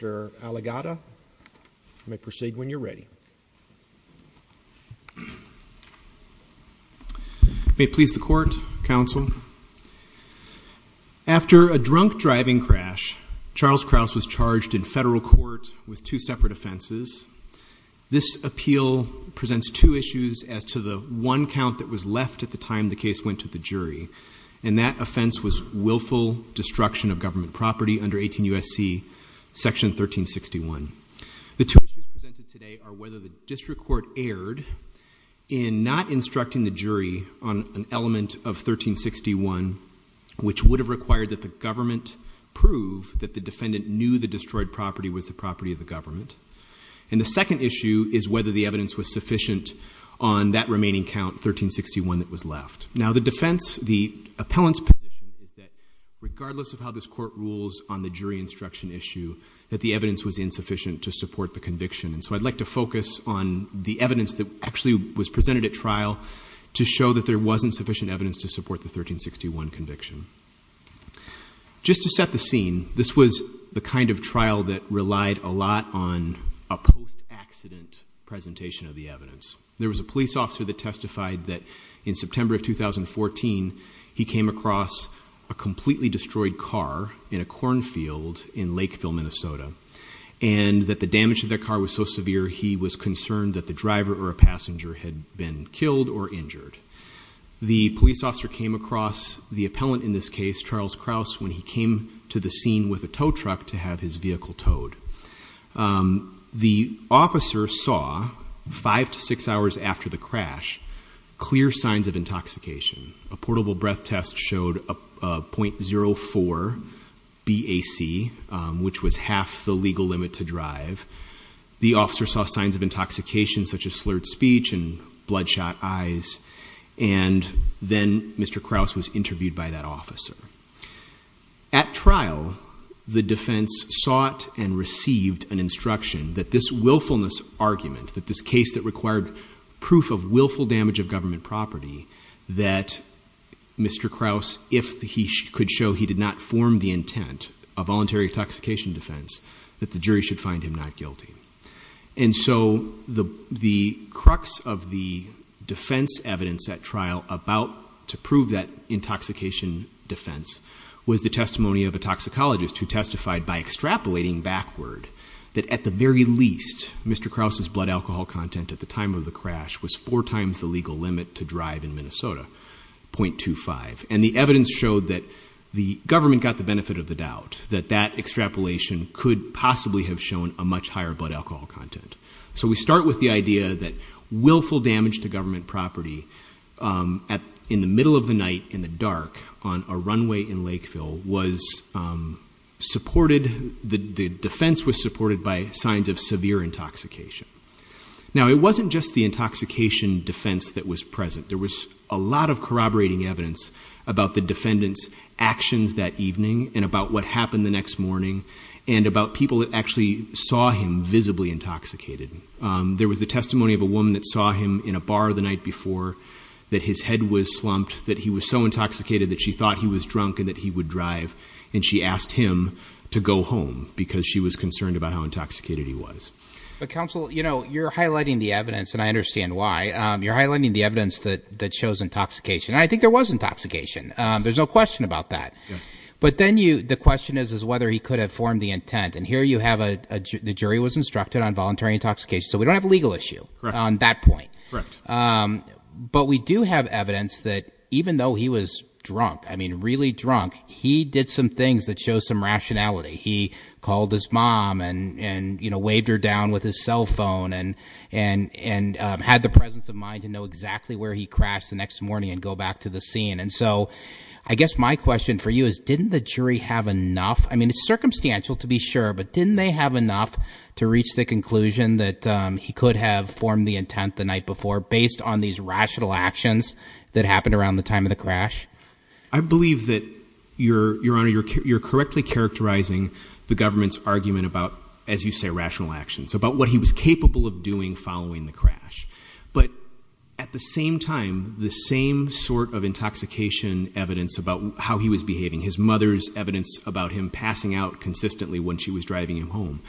After a drunk driving crash, Charles Krause was charged in federal court with two separate offenses. This appeal presents two issues as to the one count that was left at the time the case went to the jury, and that offense was willful destruction of government property under 18 U.S.C. section 1361. The two issues presented today are whether the district court erred in not instructing the jury on an element of 1361 which would have required that the government prove that the defendant knew the destroyed property was the property of the government. And the second issue is whether the evidence was sufficient on that remaining count, 1361, that was left. Now the defense, the appellant's position is that regardless of how this court rules on the jury instruction issue, that the evidence was insufficient to support the conviction. And so I'd like to focus on the evidence that actually was presented at trial to show that there wasn't sufficient evidence to support the 1361 conviction. Just to set the scene, this was the kind of trial that relied a lot on a post-accident presentation of the evidence. There was a police officer that testified that in September of 2014, he came across a completely destroyed car in a cornfield in Lakeville, Minnesota. And that the damage to the car was so severe, he was concerned that the driver or a passenger had been killed or injured. The police officer came across the appellant in this case, Charles Krause, when he came to the scene with a tow truck to have his vehicle towed. The officer saw, five to six hours after the crash, clear signs of intoxication. A portable breath test showed a .04 BAC, which was half the legal limit to drive. The officer saw signs of intoxication, such as slurred speech and bloodshot eyes. And then Mr. Krause was interviewed by that officer. At trial, the defense sought and received an instruction that this willfulness argument, that this case that required proof of willful damage of government property, that Mr. Krause, if he could show he did not form the intent of voluntary intoxication defense, that the jury should find him not guilty. And so the crux of the defense evidence at trial about to prove that intoxication defense was the testimony of a toxicologist who testified by extrapolating backward that at the very least, Mr. Krause's blood alcohol content at the time of the crash was four times the legal limit to drive in Minnesota, .25. And the evidence showed that the government got the benefit of the doubt, that that extrapolation could possibly have shown a much higher blood alcohol content. So we start with the idea that willful damage to government property in the middle of the night, in the dark, on a runway in Lakeville was supported, the defense was supported by signs of severe intoxication. Now it wasn't just the intoxication defense that was present, there was a lot of corroborating evidence about the defendant's actions that evening and about what happened the next morning and about people that actually saw him visibly intoxicated. There was the testimony of a woman that saw him in a bar the night before, that his head was slumped, that he was so intoxicated that she thought he was drunk and that he would But counsel, you know, you're highlighting the evidence and I understand why. You're highlighting the evidence that shows intoxication. I think there was intoxication, there's no question about that. But then you, the question is whether he could have formed the intent and here you have a, the jury was instructed on voluntary intoxication, so we don't have a legal issue on that point. But we do have evidence that even though he was drunk, I mean really drunk, he did some things that show some rationality. He called his mom and waved her down with his cell phone and had the presence of mind to know exactly where he crashed the next morning and go back to the scene. And so, I guess my question for you is, didn't the jury have enough, I mean it's circumstantial to be sure, but didn't they have enough to reach the conclusion that he could have formed the intent the night before based on these rational actions that happened around the time of the crash? I believe that, Your Honor, you're correctly characterizing the government's argument about, as you say, rational actions, about what he was capable of doing following the crash. But at the same time, the same sort of intoxication evidence about how he was behaving, his mother's evidence about him passing out consistently when she was driving him home.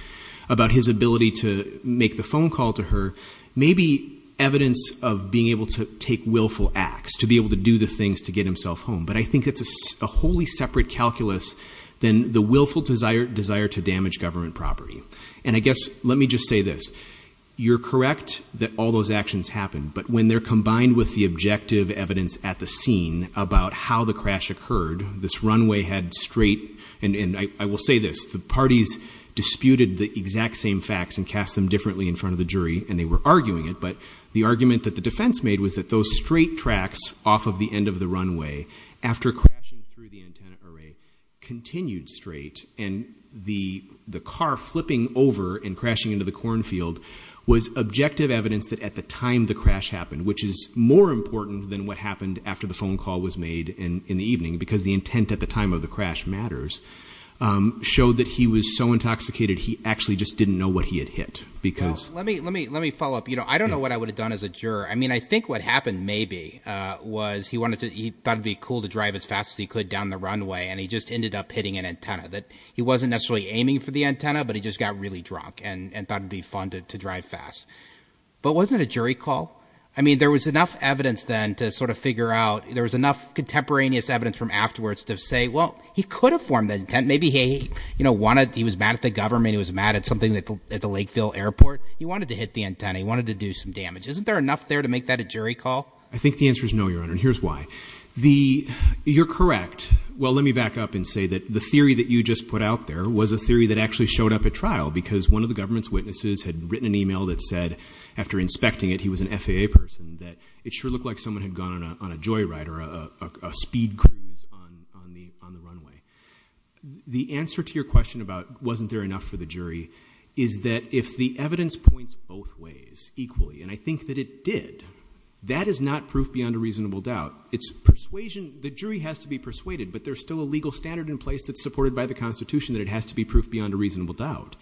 About his ability to make the phone call to her, maybe evidence of being able to take willful acts, to be able to do the things to get himself home, but I think that's a wholly separate calculus than the willful desire to damage government property. And I guess, let me just say this. You're correct that all those actions happened, but when they're combined with the objective evidence at the scene about how the crash occurred, this runway had straight, and I will say this, the parties disputed the exact same facts and cast them differently in front of the jury and they were arguing it, but the argument that the defense made was that those straight tracks off of the end of the runway after crashing through the antenna array continued straight. And the car flipping over and crashing into the cornfield was objective evidence that at the time the crash happened, which is more important than what happened after the phone call was made in the evening, because the intent at the time of the crash matters, showed that he was so intoxicated. He actually just didn't know what he had hit, because- Was he wanted to, he thought it'd be cool to drive as fast as he could down the runway and he just ended up hitting an antenna. That he wasn't necessarily aiming for the antenna, but he just got really drunk and thought it'd be fun to drive fast. But wasn't it a jury call? I mean, there was enough evidence then to sort of figure out, there was enough contemporaneous evidence from afterwards to say, well, he could have formed that intent. Maybe he wanted, he was mad at the government, he was mad at something at the Lakeville airport. He wanted to hit the antenna, he wanted to do some damage. Isn't there enough there to make that a jury call? I think the answer is no, Your Honor, and here's why. You're correct. Well, let me back up and say that the theory that you just put out there was a theory that actually showed up at trial. Because one of the government's witnesses had written an email that said, after inspecting it, he was an FAA person. That it sure looked like someone had gone on a joy ride or a speed cruise on the runway. The answer to your question about, wasn't there enough for the jury? Is that if the evidence points both ways equally, and I think that it did. That is not proof beyond a reasonable doubt. It's persuasion, the jury has to be persuaded, but there's still a legal standard in place that's supported by the Constitution that it has to be proof beyond a reasonable doubt.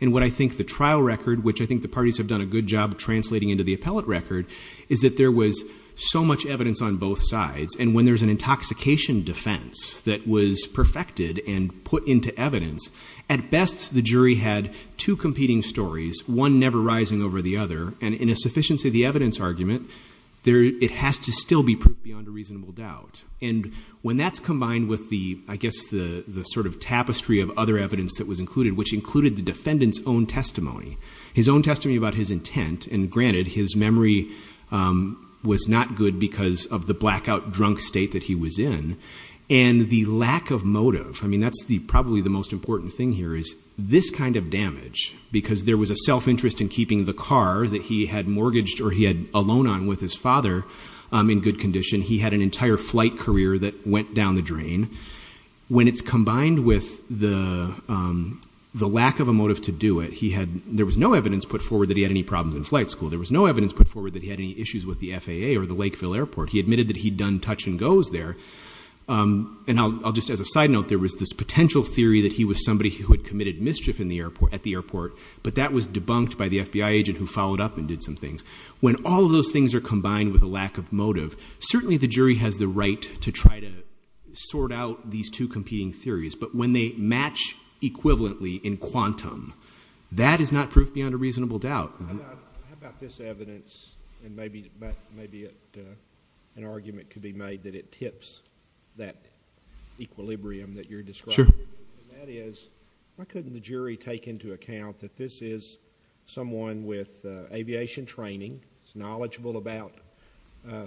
And what I think the trial record, which I think the parties have done a good job translating into the appellate record, is that there was so much evidence on both sides, and when there's an intoxication defense that was perfected and put into evidence, at best the jury had two competing stories, one never rising over the other. And in a sufficiency of the evidence argument, it has to still be proof beyond a reasonable doubt. And when that's combined with the, I guess, the sort of tapestry of other evidence that was included, which included the defendant's own testimony. His own testimony about his intent, and granted, his memory was not good because of the blackout drunk state that he was in. And the lack of motive, I mean, that's probably the most important thing here, is this kind of damage. Because there was a self-interest in keeping the car that he had mortgaged or he had a loan on with his father in good condition. He had an entire flight career that went down the drain. When it's combined with the lack of a motive to do it, there was no evidence put forward that he had any problems in flight school. There was no evidence put forward that he had any issues with the FAA or the Lakeville Airport. He admitted that he'd done touch and goes there. And I'll just, as a side note, there was this potential theory that he was somebody who had committed mischief at the airport. But that was debunked by the FBI agent who followed up and did some things. When all of those things are combined with a lack of motive, certainly the jury has the right to try to sort out these two competing theories. But when they match equivalently in quantum, that is not proof beyond a reasonable doubt. How about this evidence, and maybe an argument could be made that it tips that equilibrium that you're describing? Sure. And that is, why couldn't the jury take into account that this is someone with aviation training, is knowledgeable about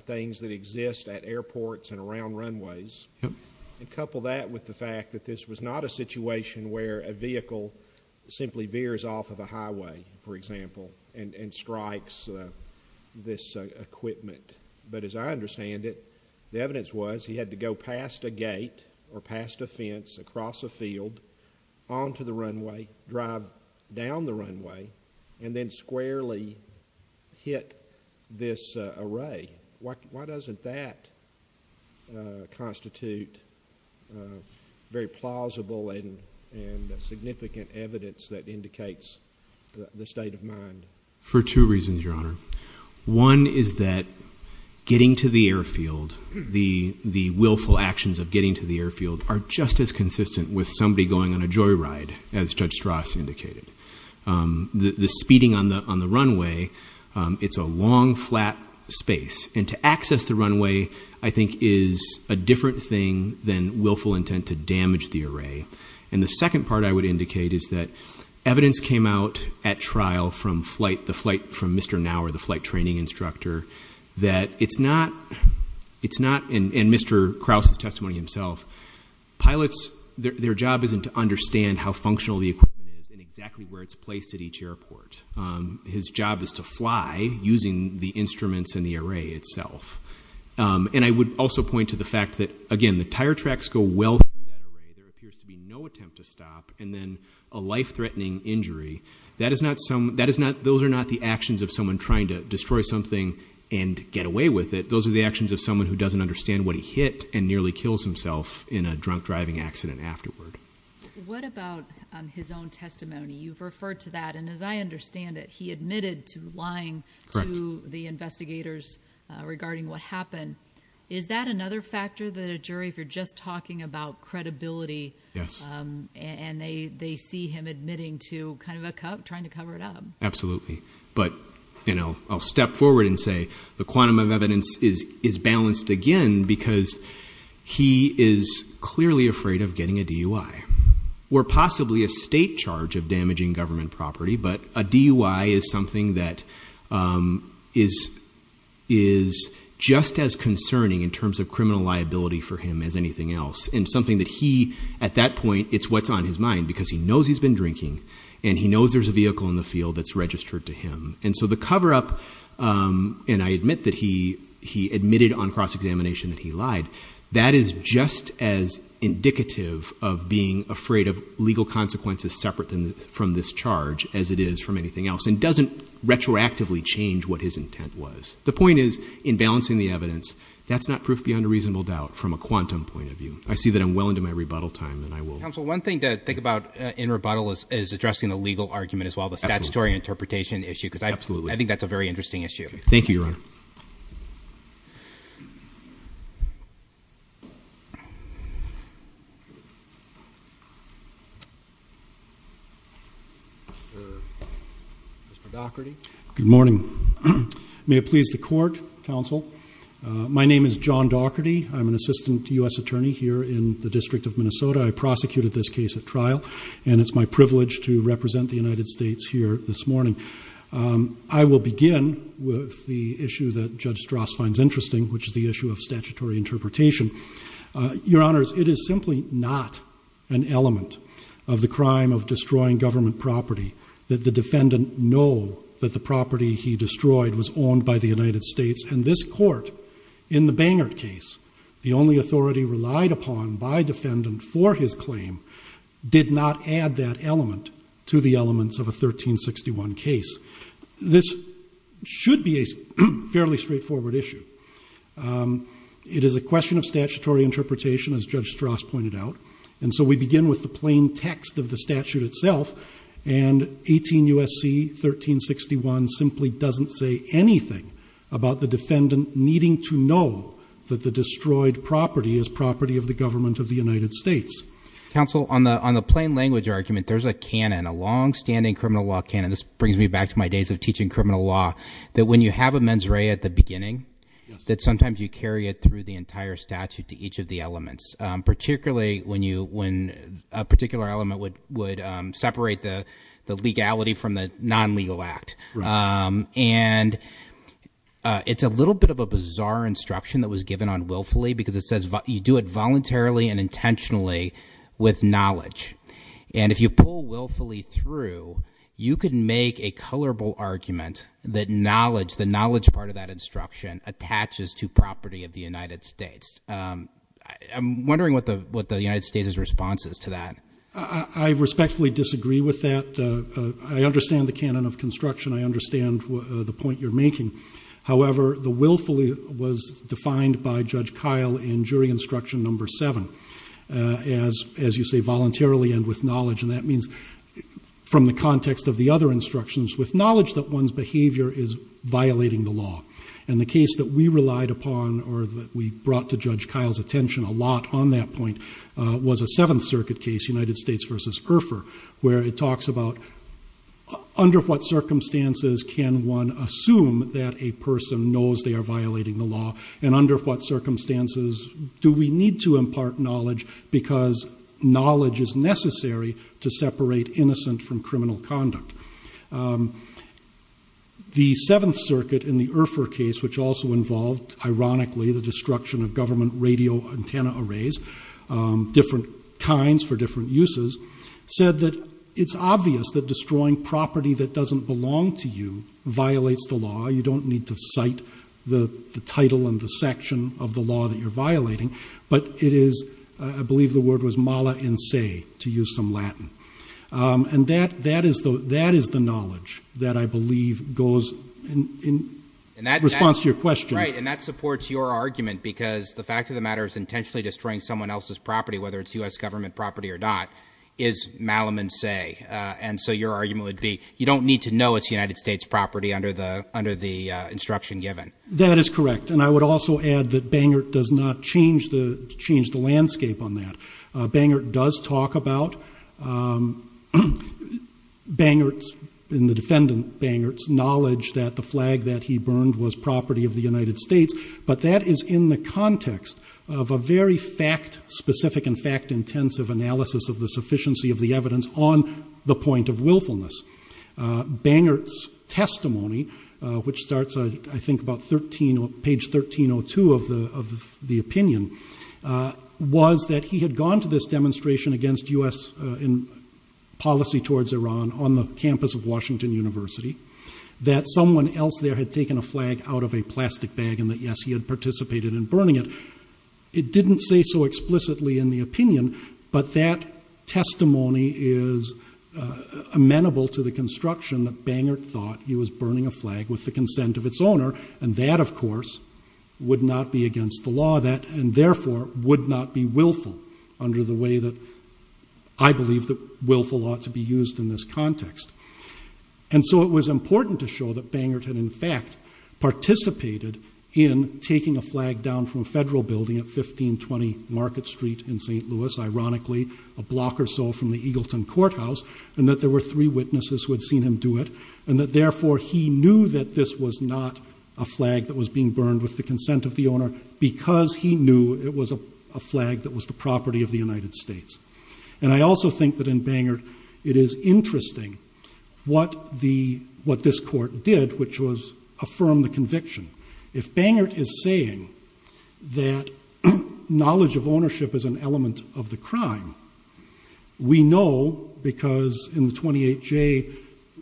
things that exist at airports and around runways, and couple that with the fact that this was not a situation where a vehicle simply veers off of a highway, for example, and strikes this equipment? But as I understand it, the evidence was he had to go past a gate or past a fence, across a field, onto the runway, drive down the runway, and then squarely hit this array. Why doesn't that constitute very plausible and significant evidence that indicates the state of mind? For two reasons, Your Honor. One is that getting to the airfield, the willful actions of getting to the airfield, are just as consistent with somebody going on a joyride, as Judge Strass indicated. The speeding on the runway, it's a long, flat space. And to access the runway, I think, is a different thing than willful intent to damage the array. And the second part I would indicate is that evidence came out at trial from the flight from Mr. Nauer, the flight training instructor, that it's not, and Mr. Krause's testimony himself, pilots, their job isn't to understand how functional the equipment is and exactly where it's placed at each airport. His job is to fly using the instruments and the array itself. And I would also point to the fact that, again, the tire tracks go well through that array. There appears to be no attempt to stop, and then a life-threatening injury. Those are not the actions of someone trying to destroy something and get away with it. Those are the actions of someone who doesn't understand what he hit and nearly kills himself in a drunk driving accident afterward. What about his own testimony? You've referred to that, and as I understand it, he admitted to lying to the investigators regarding what happened. Is that another factor that a jury, if you're just talking about credibility, and they see him admitting to kind of trying to cover it up? Absolutely. But I'll step forward and say the quantum of evidence is balanced again because he is clearly afraid of getting a DUI or possibly a state charge of damaging government property. But a DUI is something that is just as concerning in terms of criminal liability for him as anything else. And something that he, at that point, it's what's on his mind because he knows he's been drinking. And he knows there's a vehicle in the field that's registered to him. And so the cover up, and I admit that he admitted on cross-examination that he lied. That is just as indicative of being afraid of legal consequences separate from this charge as it is from anything else. And doesn't retroactively change what his intent was. The point is, in balancing the evidence, that's not proof beyond a reasonable doubt from a quantum point of view. I see that I'm well into my rebuttal time and I will- Counsel, one thing to think about in rebuttal is addressing the legal argument as well, the statutory interpretation issue. Because I think that's a very interesting issue. Thank you, Your Honor. Mr. Daugherty. Good morning. May it please the court, counsel. My name is John Daugherty. I'm an assistant US attorney here in the District of Minnesota. I prosecuted this case at trial. And it's my privilege to represent the United States here this morning. I will begin with the issue that Judge Strass finds interesting, which is the issue of statutory interpretation. Your Honors, it is simply not an element of the crime of destroying government property that the defendant know that the property he destroyed was owned by the United States. And this court, in the Bangert case, the only authority relied upon by defendant for his claim, did not add that element to the elements of a 1361 case. This should be a fairly straightforward issue. It is a question of statutory interpretation, as Judge Strass pointed out. And so we begin with the plain text of the statute itself. And 18 USC 1361 simply doesn't say anything about the defendant needing to know that the destroyed property is property of the government of the United States. Counsel, on the plain language argument, there's a canon, a long standing criminal law canon. This brings me back to my days of teaching criminal law. That when you have a mens rea at the beginning, that sometimes you carry it through the entire statute to each of the elements. Particularly when a particular element would separate the legality from the non-legal act. And it's a little bit of a bizarre instruction that was given on willfully, because it says you do it voluntarily and intentionally with knowledge. And if you pull willfully through, you can make a colorable argument that knowledge, the knowledge part of that instruction, attaches to property of the United States. I'm wondering what the United States' response is to that. I respectfully disagree with that. I understand the canon of construction. I understand the point you're making. However, the willfully was defined by Judge Kyle in jury instruction number seven. As you say, voluntarily and with knowledge. And that means from the context of the other instructions, with knowledge that one's behavior is violating the law. And the case that we relied upon, or that we brought to Judge Kyle's attention a lot on that point, was a Seventh Circuit case, United States versus Urpher. Where it talks about, under what circumstances can one assume that a person knows they are violating the law? And under what circumstances do we need to impart knowledge? Because knowledge is necessary to separate innocent from criminal conduct. The Seventh Circuit in the Urpher case, which also involved, ironically, the destruction of government radio antenna arrays, different kinds for different uses, said that it's obvious that destroying property that doesn't belong to you violates the law. You don't need to cite the title and the section of the law that you're violating. But it is, I believe the word was mala in se, to use some Latin. And that is the knowledge that I believe goes in response to your question. Right, and that supports your argument, because the fact of the matter is intentionally destroying someone else's property, whether it's US government property or not, is mala in se. And so your argument would be, you don't need to know it's United States property under the instruction given. That is correct, and I would also add that Bangert does not change the landscape on that. Bangert does talk about, Bangert's, in the defendant, Bangert's knowledge that the flag that he burned was property of the United States. But that is in the context of a very fact-specific and fact-intensive analysis of the sufficiency of the evidence on the point of willfulness. Bangert's testimony, which starts I think about page 1302 of the opinion, was that he had gone to this demonstration against US policy towards Iran on the campus of Washington University. That someone else there had taken a flag out of a plastic bag, and that yes, he had participated in burning it. It didn't say so explicitly in the opinion, but that testimony is amenable to the construction that Bangert thought he was burning a flag with the consent of its owner. And that, of course, would not be against the law. And therefore, would not be willful under the way that I believe that willful ought to be used in this context. And so it was important to show that Bangert had in fact participated in taking a flag down from a federal building at 1520 Market Street in St. Louis. Ironically, a block or so from the Eagleton Courthouse, and that there were three witnesses who had seen him do it. And that therefore, he knew that this was not a flag that was being burned with the consent of the owner, because he knew it was a flag that was the property of the United States. And I also think that in Bangert, it is interesting what this court did, which was affirm the conviction. If Bangert is saying that knowledge of ownership is an element of the crime, we know because in the 28J,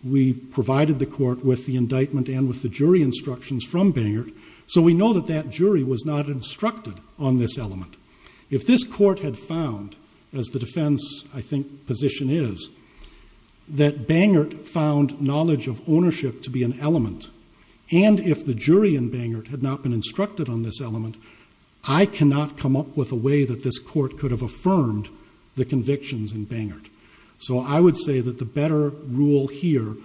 we provided the court with the indictment and with the jury instructions from Bangert. So we know that that jury was not instructed on this element. If this court had found, as the defense, I think, position is, that Bangert found knowledge of ownership to be an element. And if the jury in Bangert had not been instructed on this element, I cannot come up with a way that this court could have affirmed the convictions in Bangert. So I would say that the better rule here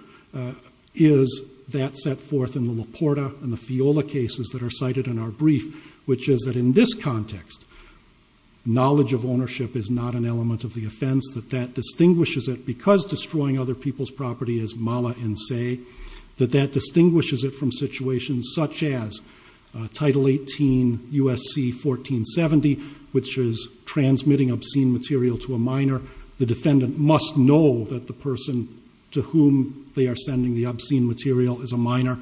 is that set forth in the LaPorta and the Fiola cases that are cited in our brief, which is that in this context, knowledge of ownership is not an element of the offense, that that distinguishes it, because destroying other people's property is mala in se, that that distinguishes it from situations such as Title 18 USC 1470, which is transmitting obscene material to a minor. The defendant must know that the person to whom they are sending the obscene material is a minor.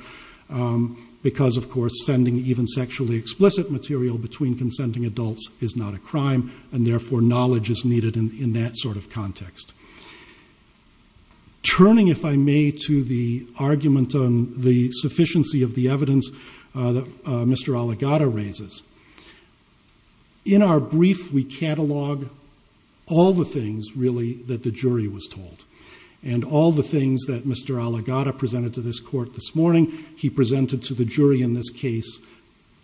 Because, of course, sending even sexually explicit material between consenting adults is not a crime. And therefore, knowledge is needed in that sort of context. Turning, if I may, to the argument on the sufficiency of the evidence that Mr. In our brief, we catalog all the things, really, that the jury was told. And all the things that Mr. Aligata presented to this court this morning, he presented to the jury in this case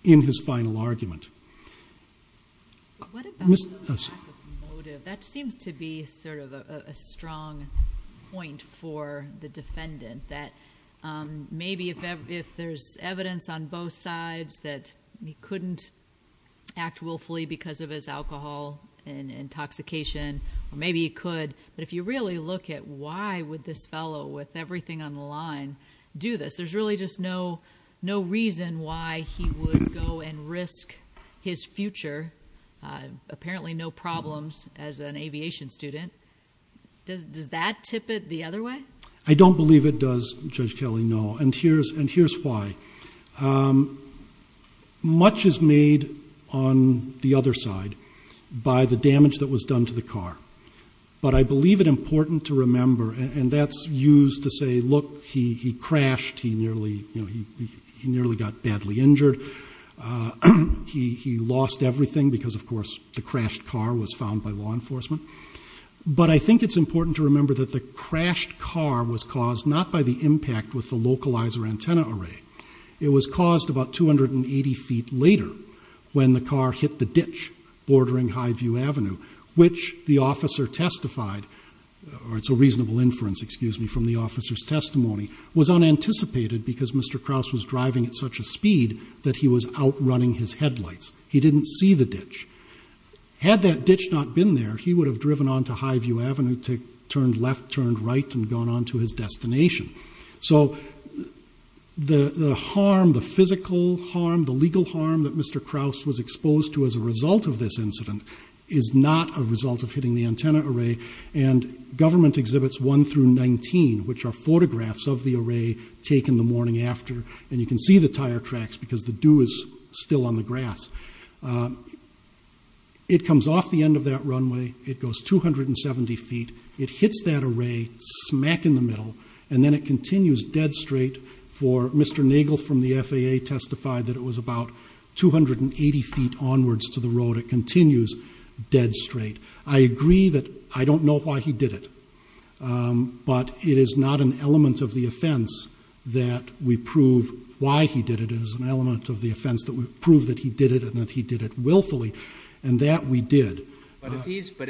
in his final argument. Ms., I'm sorry. What about the lack of motive? That seems to be sort of a strong point for the defendant. That maybe if there's evidence on both sides that he couldn't act willfully because of his alcohol and intoxication, or maybe he could. But if you really look at why would this fellow, with everything on the line, do this? There's really just no reason why he would go and risk his future. Apparently no problems as an aviation student. Does that tip it the other way? I don't believe it does, Judge Kelly, no. And here's why. Much is made on the other side by the damage that was done to the car. But I believe it important to remember, and that's used to say, look, he crashed. He nearly got badly injured. He lost everything because, of course, the crashed car was found by law enforcement. But I think it's important to remember that the crashed car was caused not by the impact with the localizer antenna array. It was caused about 280 feet later when the car hit the ditch bordering Highview Avenue, which the officer testified, or it's a reasonable inference, excuse me, from the officer's testimony, was unanticipated because Mr. Krause was driving at such a speed that he was outrunning his headlights. He didn't see the ditch. Had that ditch not been there, he would have driven onto Highview Avenue, turned left, turned right, and gone on to his destination. So the harm, the physical harm, the legal harm that Mr. Krause was exposed to as a result of this incident is not a result of hitting the antenna array. And government exhibits one through 19, which are photographs of the array taken the morning after, and you can see the tire tracks because the dew is still on the grass. It comes off the end of that runway. It goes 270 feet. It hits that array smack in the middle, and then it continues dead straight for Mr. Nagel from the FAA testified that it was about 280 feet onwards to the road. It continues dead straight. I agree that I don't know why he did it, but it is not an element of the offense that we prove why he did it. It is an element of the offense that we prove that he did it and that he did it willfully, and that we did. But if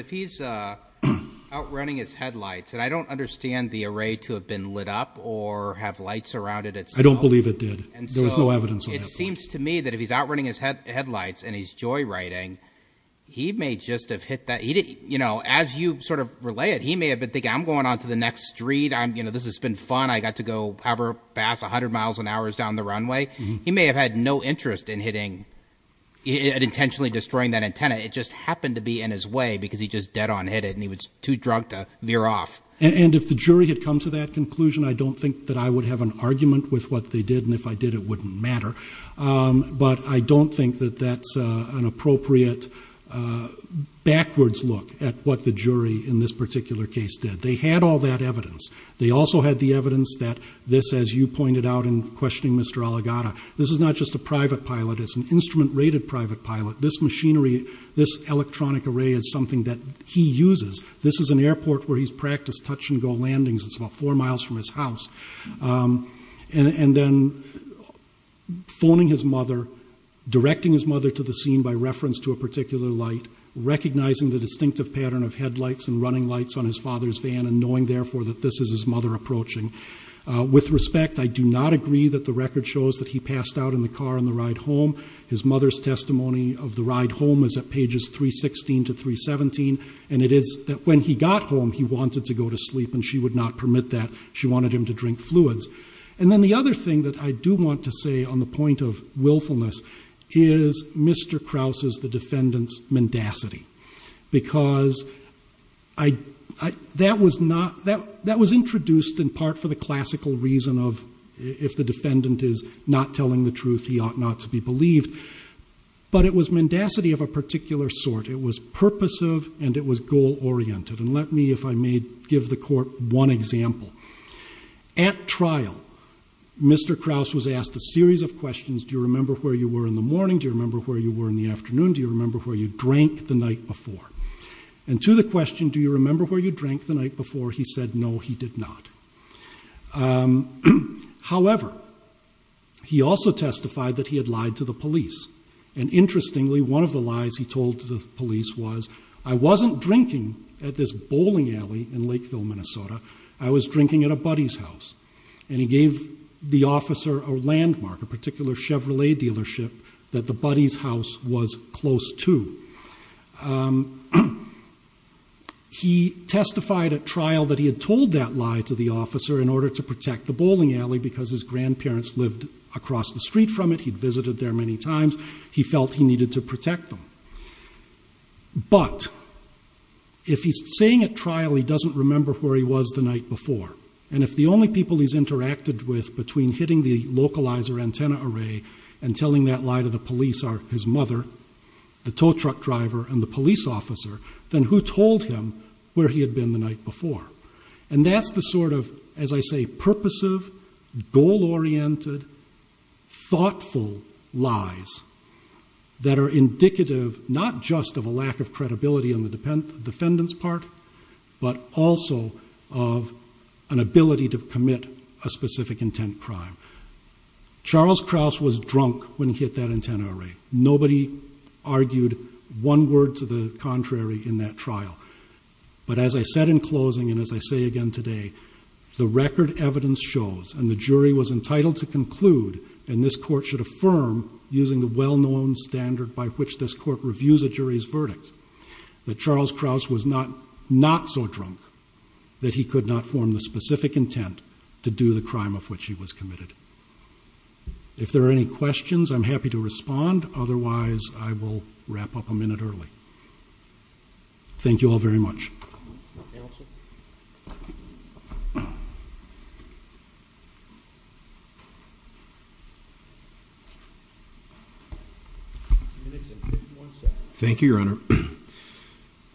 he's out running his headlights, and I don't understand the array to have been lit up or have lights around it itself. I don't believe it did. There was no evidence of that. It seems to me that if he's out running his headlights and he's joyriding, he may just have hit that. As you sort of relay it, he may have been thinking, I'm going on to the next street, this has been fun. I got to go however fast, 100 miles an hour down the runway. He may have had no interest in intentionally destroying that antenna. It just happened to be in his way, because he just dead on hit it, and he was too drunk to veer off. And if the jury had come to that conclusion, I don't think that I would have an argument with what they did, and if I did, it wouldn't matter. But I don't think that that's an appropriate backwards look at what the jury in this particular case did. They had all that evidence. They also had the evidence that this, as you pointed out in questioning Mr. Aligata, this is not just a private pilot. It's an instrument rated private pilot. This machinery, this electronic array is something that he uses. This is an airport where he's practiced touch and go landings. It's about four miles from his house, and then phoning his mother, directing his mother to the scene by reference to a particular light, recognizing the distinctive pattern of headlights and running lights on his father's van, and knowing therefore that this is his mother approaching. With respect, I do not agree that the record shows that he passed out in the car on the ride home. His mother's testimony of the ride home is at pages 316 to 317, and it is that when he got home, he wanted to go to sleep, and she would not permit that. She wanted him to drink fluids. And then the other thing that I do want to say on the point of willfulness is Mr. Krause's, the defendant's mendacity. Because that was introduced in part for the classical reason of if the defendant is not telling the truth, he ought not to be believed. But it was mendacity of a particular sort. It was purposive, and it was goal-oriented. And let me, if I may, give the court one example. At trial, Mr. Krause was asked a series of questions. Do you remember where you were in the morning? Do you remember where you were in the afternoon? Do you remember where you drank the night before? And to the question, do you remember where you drank the night before? He said, no, he did not. However, he also testified that he had lied to the police. And interestingly, one of the lies he told to the police was, I wasn't drinking at this bowling alley in Lakeville, Minnesota. I was drinking at a buddy's house. And he gave the officer a landmark, a particular Chevrolet dealership, that the buddy's house was close to. He testified at trial that he had told that lie to the officer in order to protect the bowling alley, because his grandparents lived across the street from it. He'd visited there many times. He felt he needed to protect them. But if he's saying at trial he doesn't remember where he was the night before, and if the only people he's interacted with between hitting the localizer antenna array and telling that lie to the police are his mother, the tow truck driver, and the police officer, then who told him where he had been the night before? And that's the sort of, as I say, purposive, goal-oriented, thoughtful lies that are indicative not just of a lack of credibility on the defendant's part, but also of an ability to commit a specific intent crime. Charles Krause was drunk when he hit that antenna array. Nobody argued one word to the contrary in that trial. But as I said in closing, and as I say again today, the record evidence shows, and the jury was entitled to conclude, and this court should affirm, using the well-known standard by which this court reviews a jury's verdict, that Charles Krause was not so drunk that he could not form the specific intent to do the crime of which he was committed. If there are any questions, I'm happy to respond. Otherwise, I will wrap up a minute early. Thank you all very much. Counsel? Minutes and 51 seconds. Thank you, Your Honor.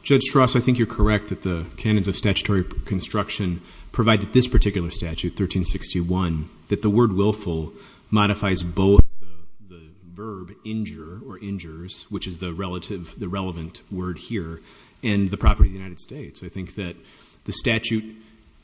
Judge Strauss, I think you're correct that the canons of statutory construction provide that this particular statute, 1361, that the word willful modifies both the verb injure or injures, which is the relative, the relevant word here, and the property of the United States. I think that the statute,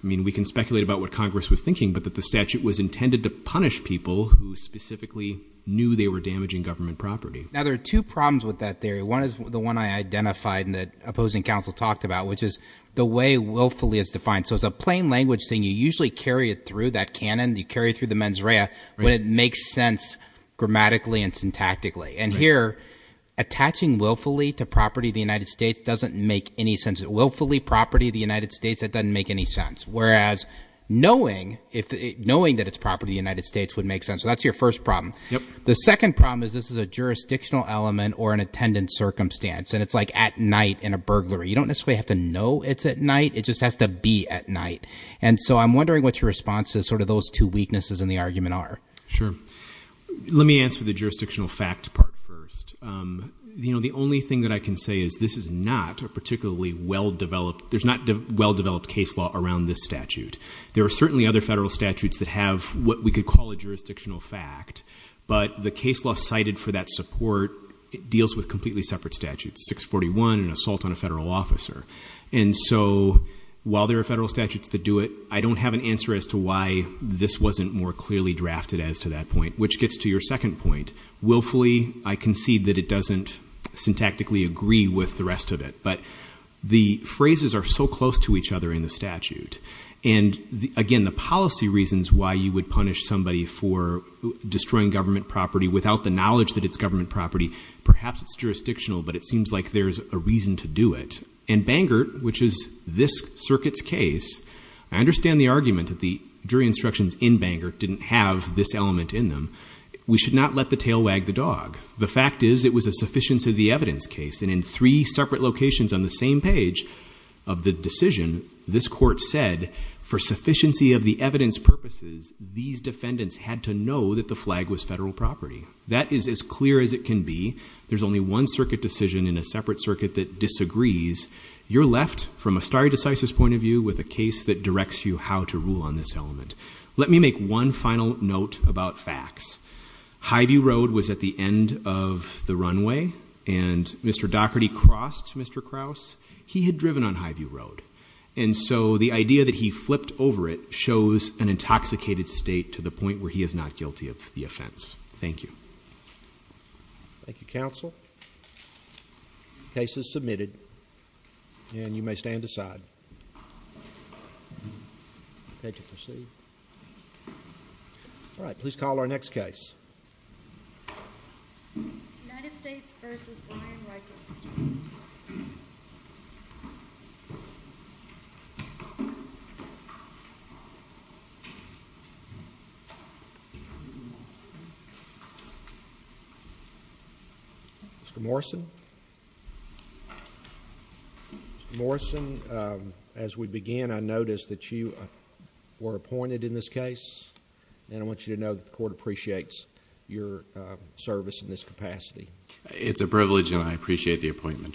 I mean, we can speculate about what Congress was thinking, but that the statute was intended to punish people who specifically knew they were damaging government property. Now, there are two problems with that theory. One is the one I identified and that opposing counsel talked about, which is the way willfully is defined. So it's a plain language thing. You usually carry it through that canon, you carry it through the mens rea, but it makes sense grammatically and syntactically. And here, attaching willfully to property of the United States doesn't make any sense. Willfully, property of the United States, that doesn't make any sense. Whereas, knowing that it's property of the United States would make sense. So that's your first problem. The second problem is this is a jurisdictional element or an attendant circumstance, and it's like at night in a burglary. You don't necessarily have to know it's at night, it just has to be at night. And so I'm wondering what your response is, sort of those two weaknesses in the argument are. Sure. Let me answer the jurisdictional fact part first. The only thing that I can say is this is not a particularly well-developed, there's not well-developed case law around this statute. There are certainly other federal statutes that have what we could call a jurisdictional fact. But the case law cited for that support, it deals with completely separate statutes, 641, an assault on a federal officer. And so while there are federal statutes that do it, I don't have an answer as to why this wasn't more clearly drafted as to that point. Which gets to your second point. Willfully, I concede that it doesn't syntactically agree with the rest of it. But the phrases are so close to each other in the statute. And again, the policy reasons why you would punish somebody for destroying government property without the knowledge that it's government property, perhaps it's jurisdictional, but it seems like there's a reason to do it. And Bangert, which is this circuit's case, I understand the argument that the jury instructions in Bangert didn't have this element in them. We should not let the tail wag the dog. The fact is, it was a sufficiency of the evidence case. And in three separate locations on the same page of the decision, this court said, for sufficiency of the evidence purposes, these defendants had to know that the flag was federal property. That is as clear as it can be. There's only one circuit decision in a separate circuit that disagrees. You're left, from a stare decisis point of view, with a case that directs you how to rule on this element. Let me make one final note about facts. Highview Road was at the end of the runway, and Mr. Dougherty crossed Mr. Krause. He had driven on Highview Road. And so the idea that he flipped over it shows an intoxicated state to the point where he is not guilty of the offense. Thank you. Thank you, counsel. Case is submitted, and you may stand aside. Take your seat. Thank you. All right, please call our next case. United States versus Brian Reichert. Mr. Morrison? Mr. Morrison, as we began, I noticed that you were appointed in this case. And I want you to know that the court appreciates your service in this capacity. It's a privilege, and I appreciate the appointment, Judge.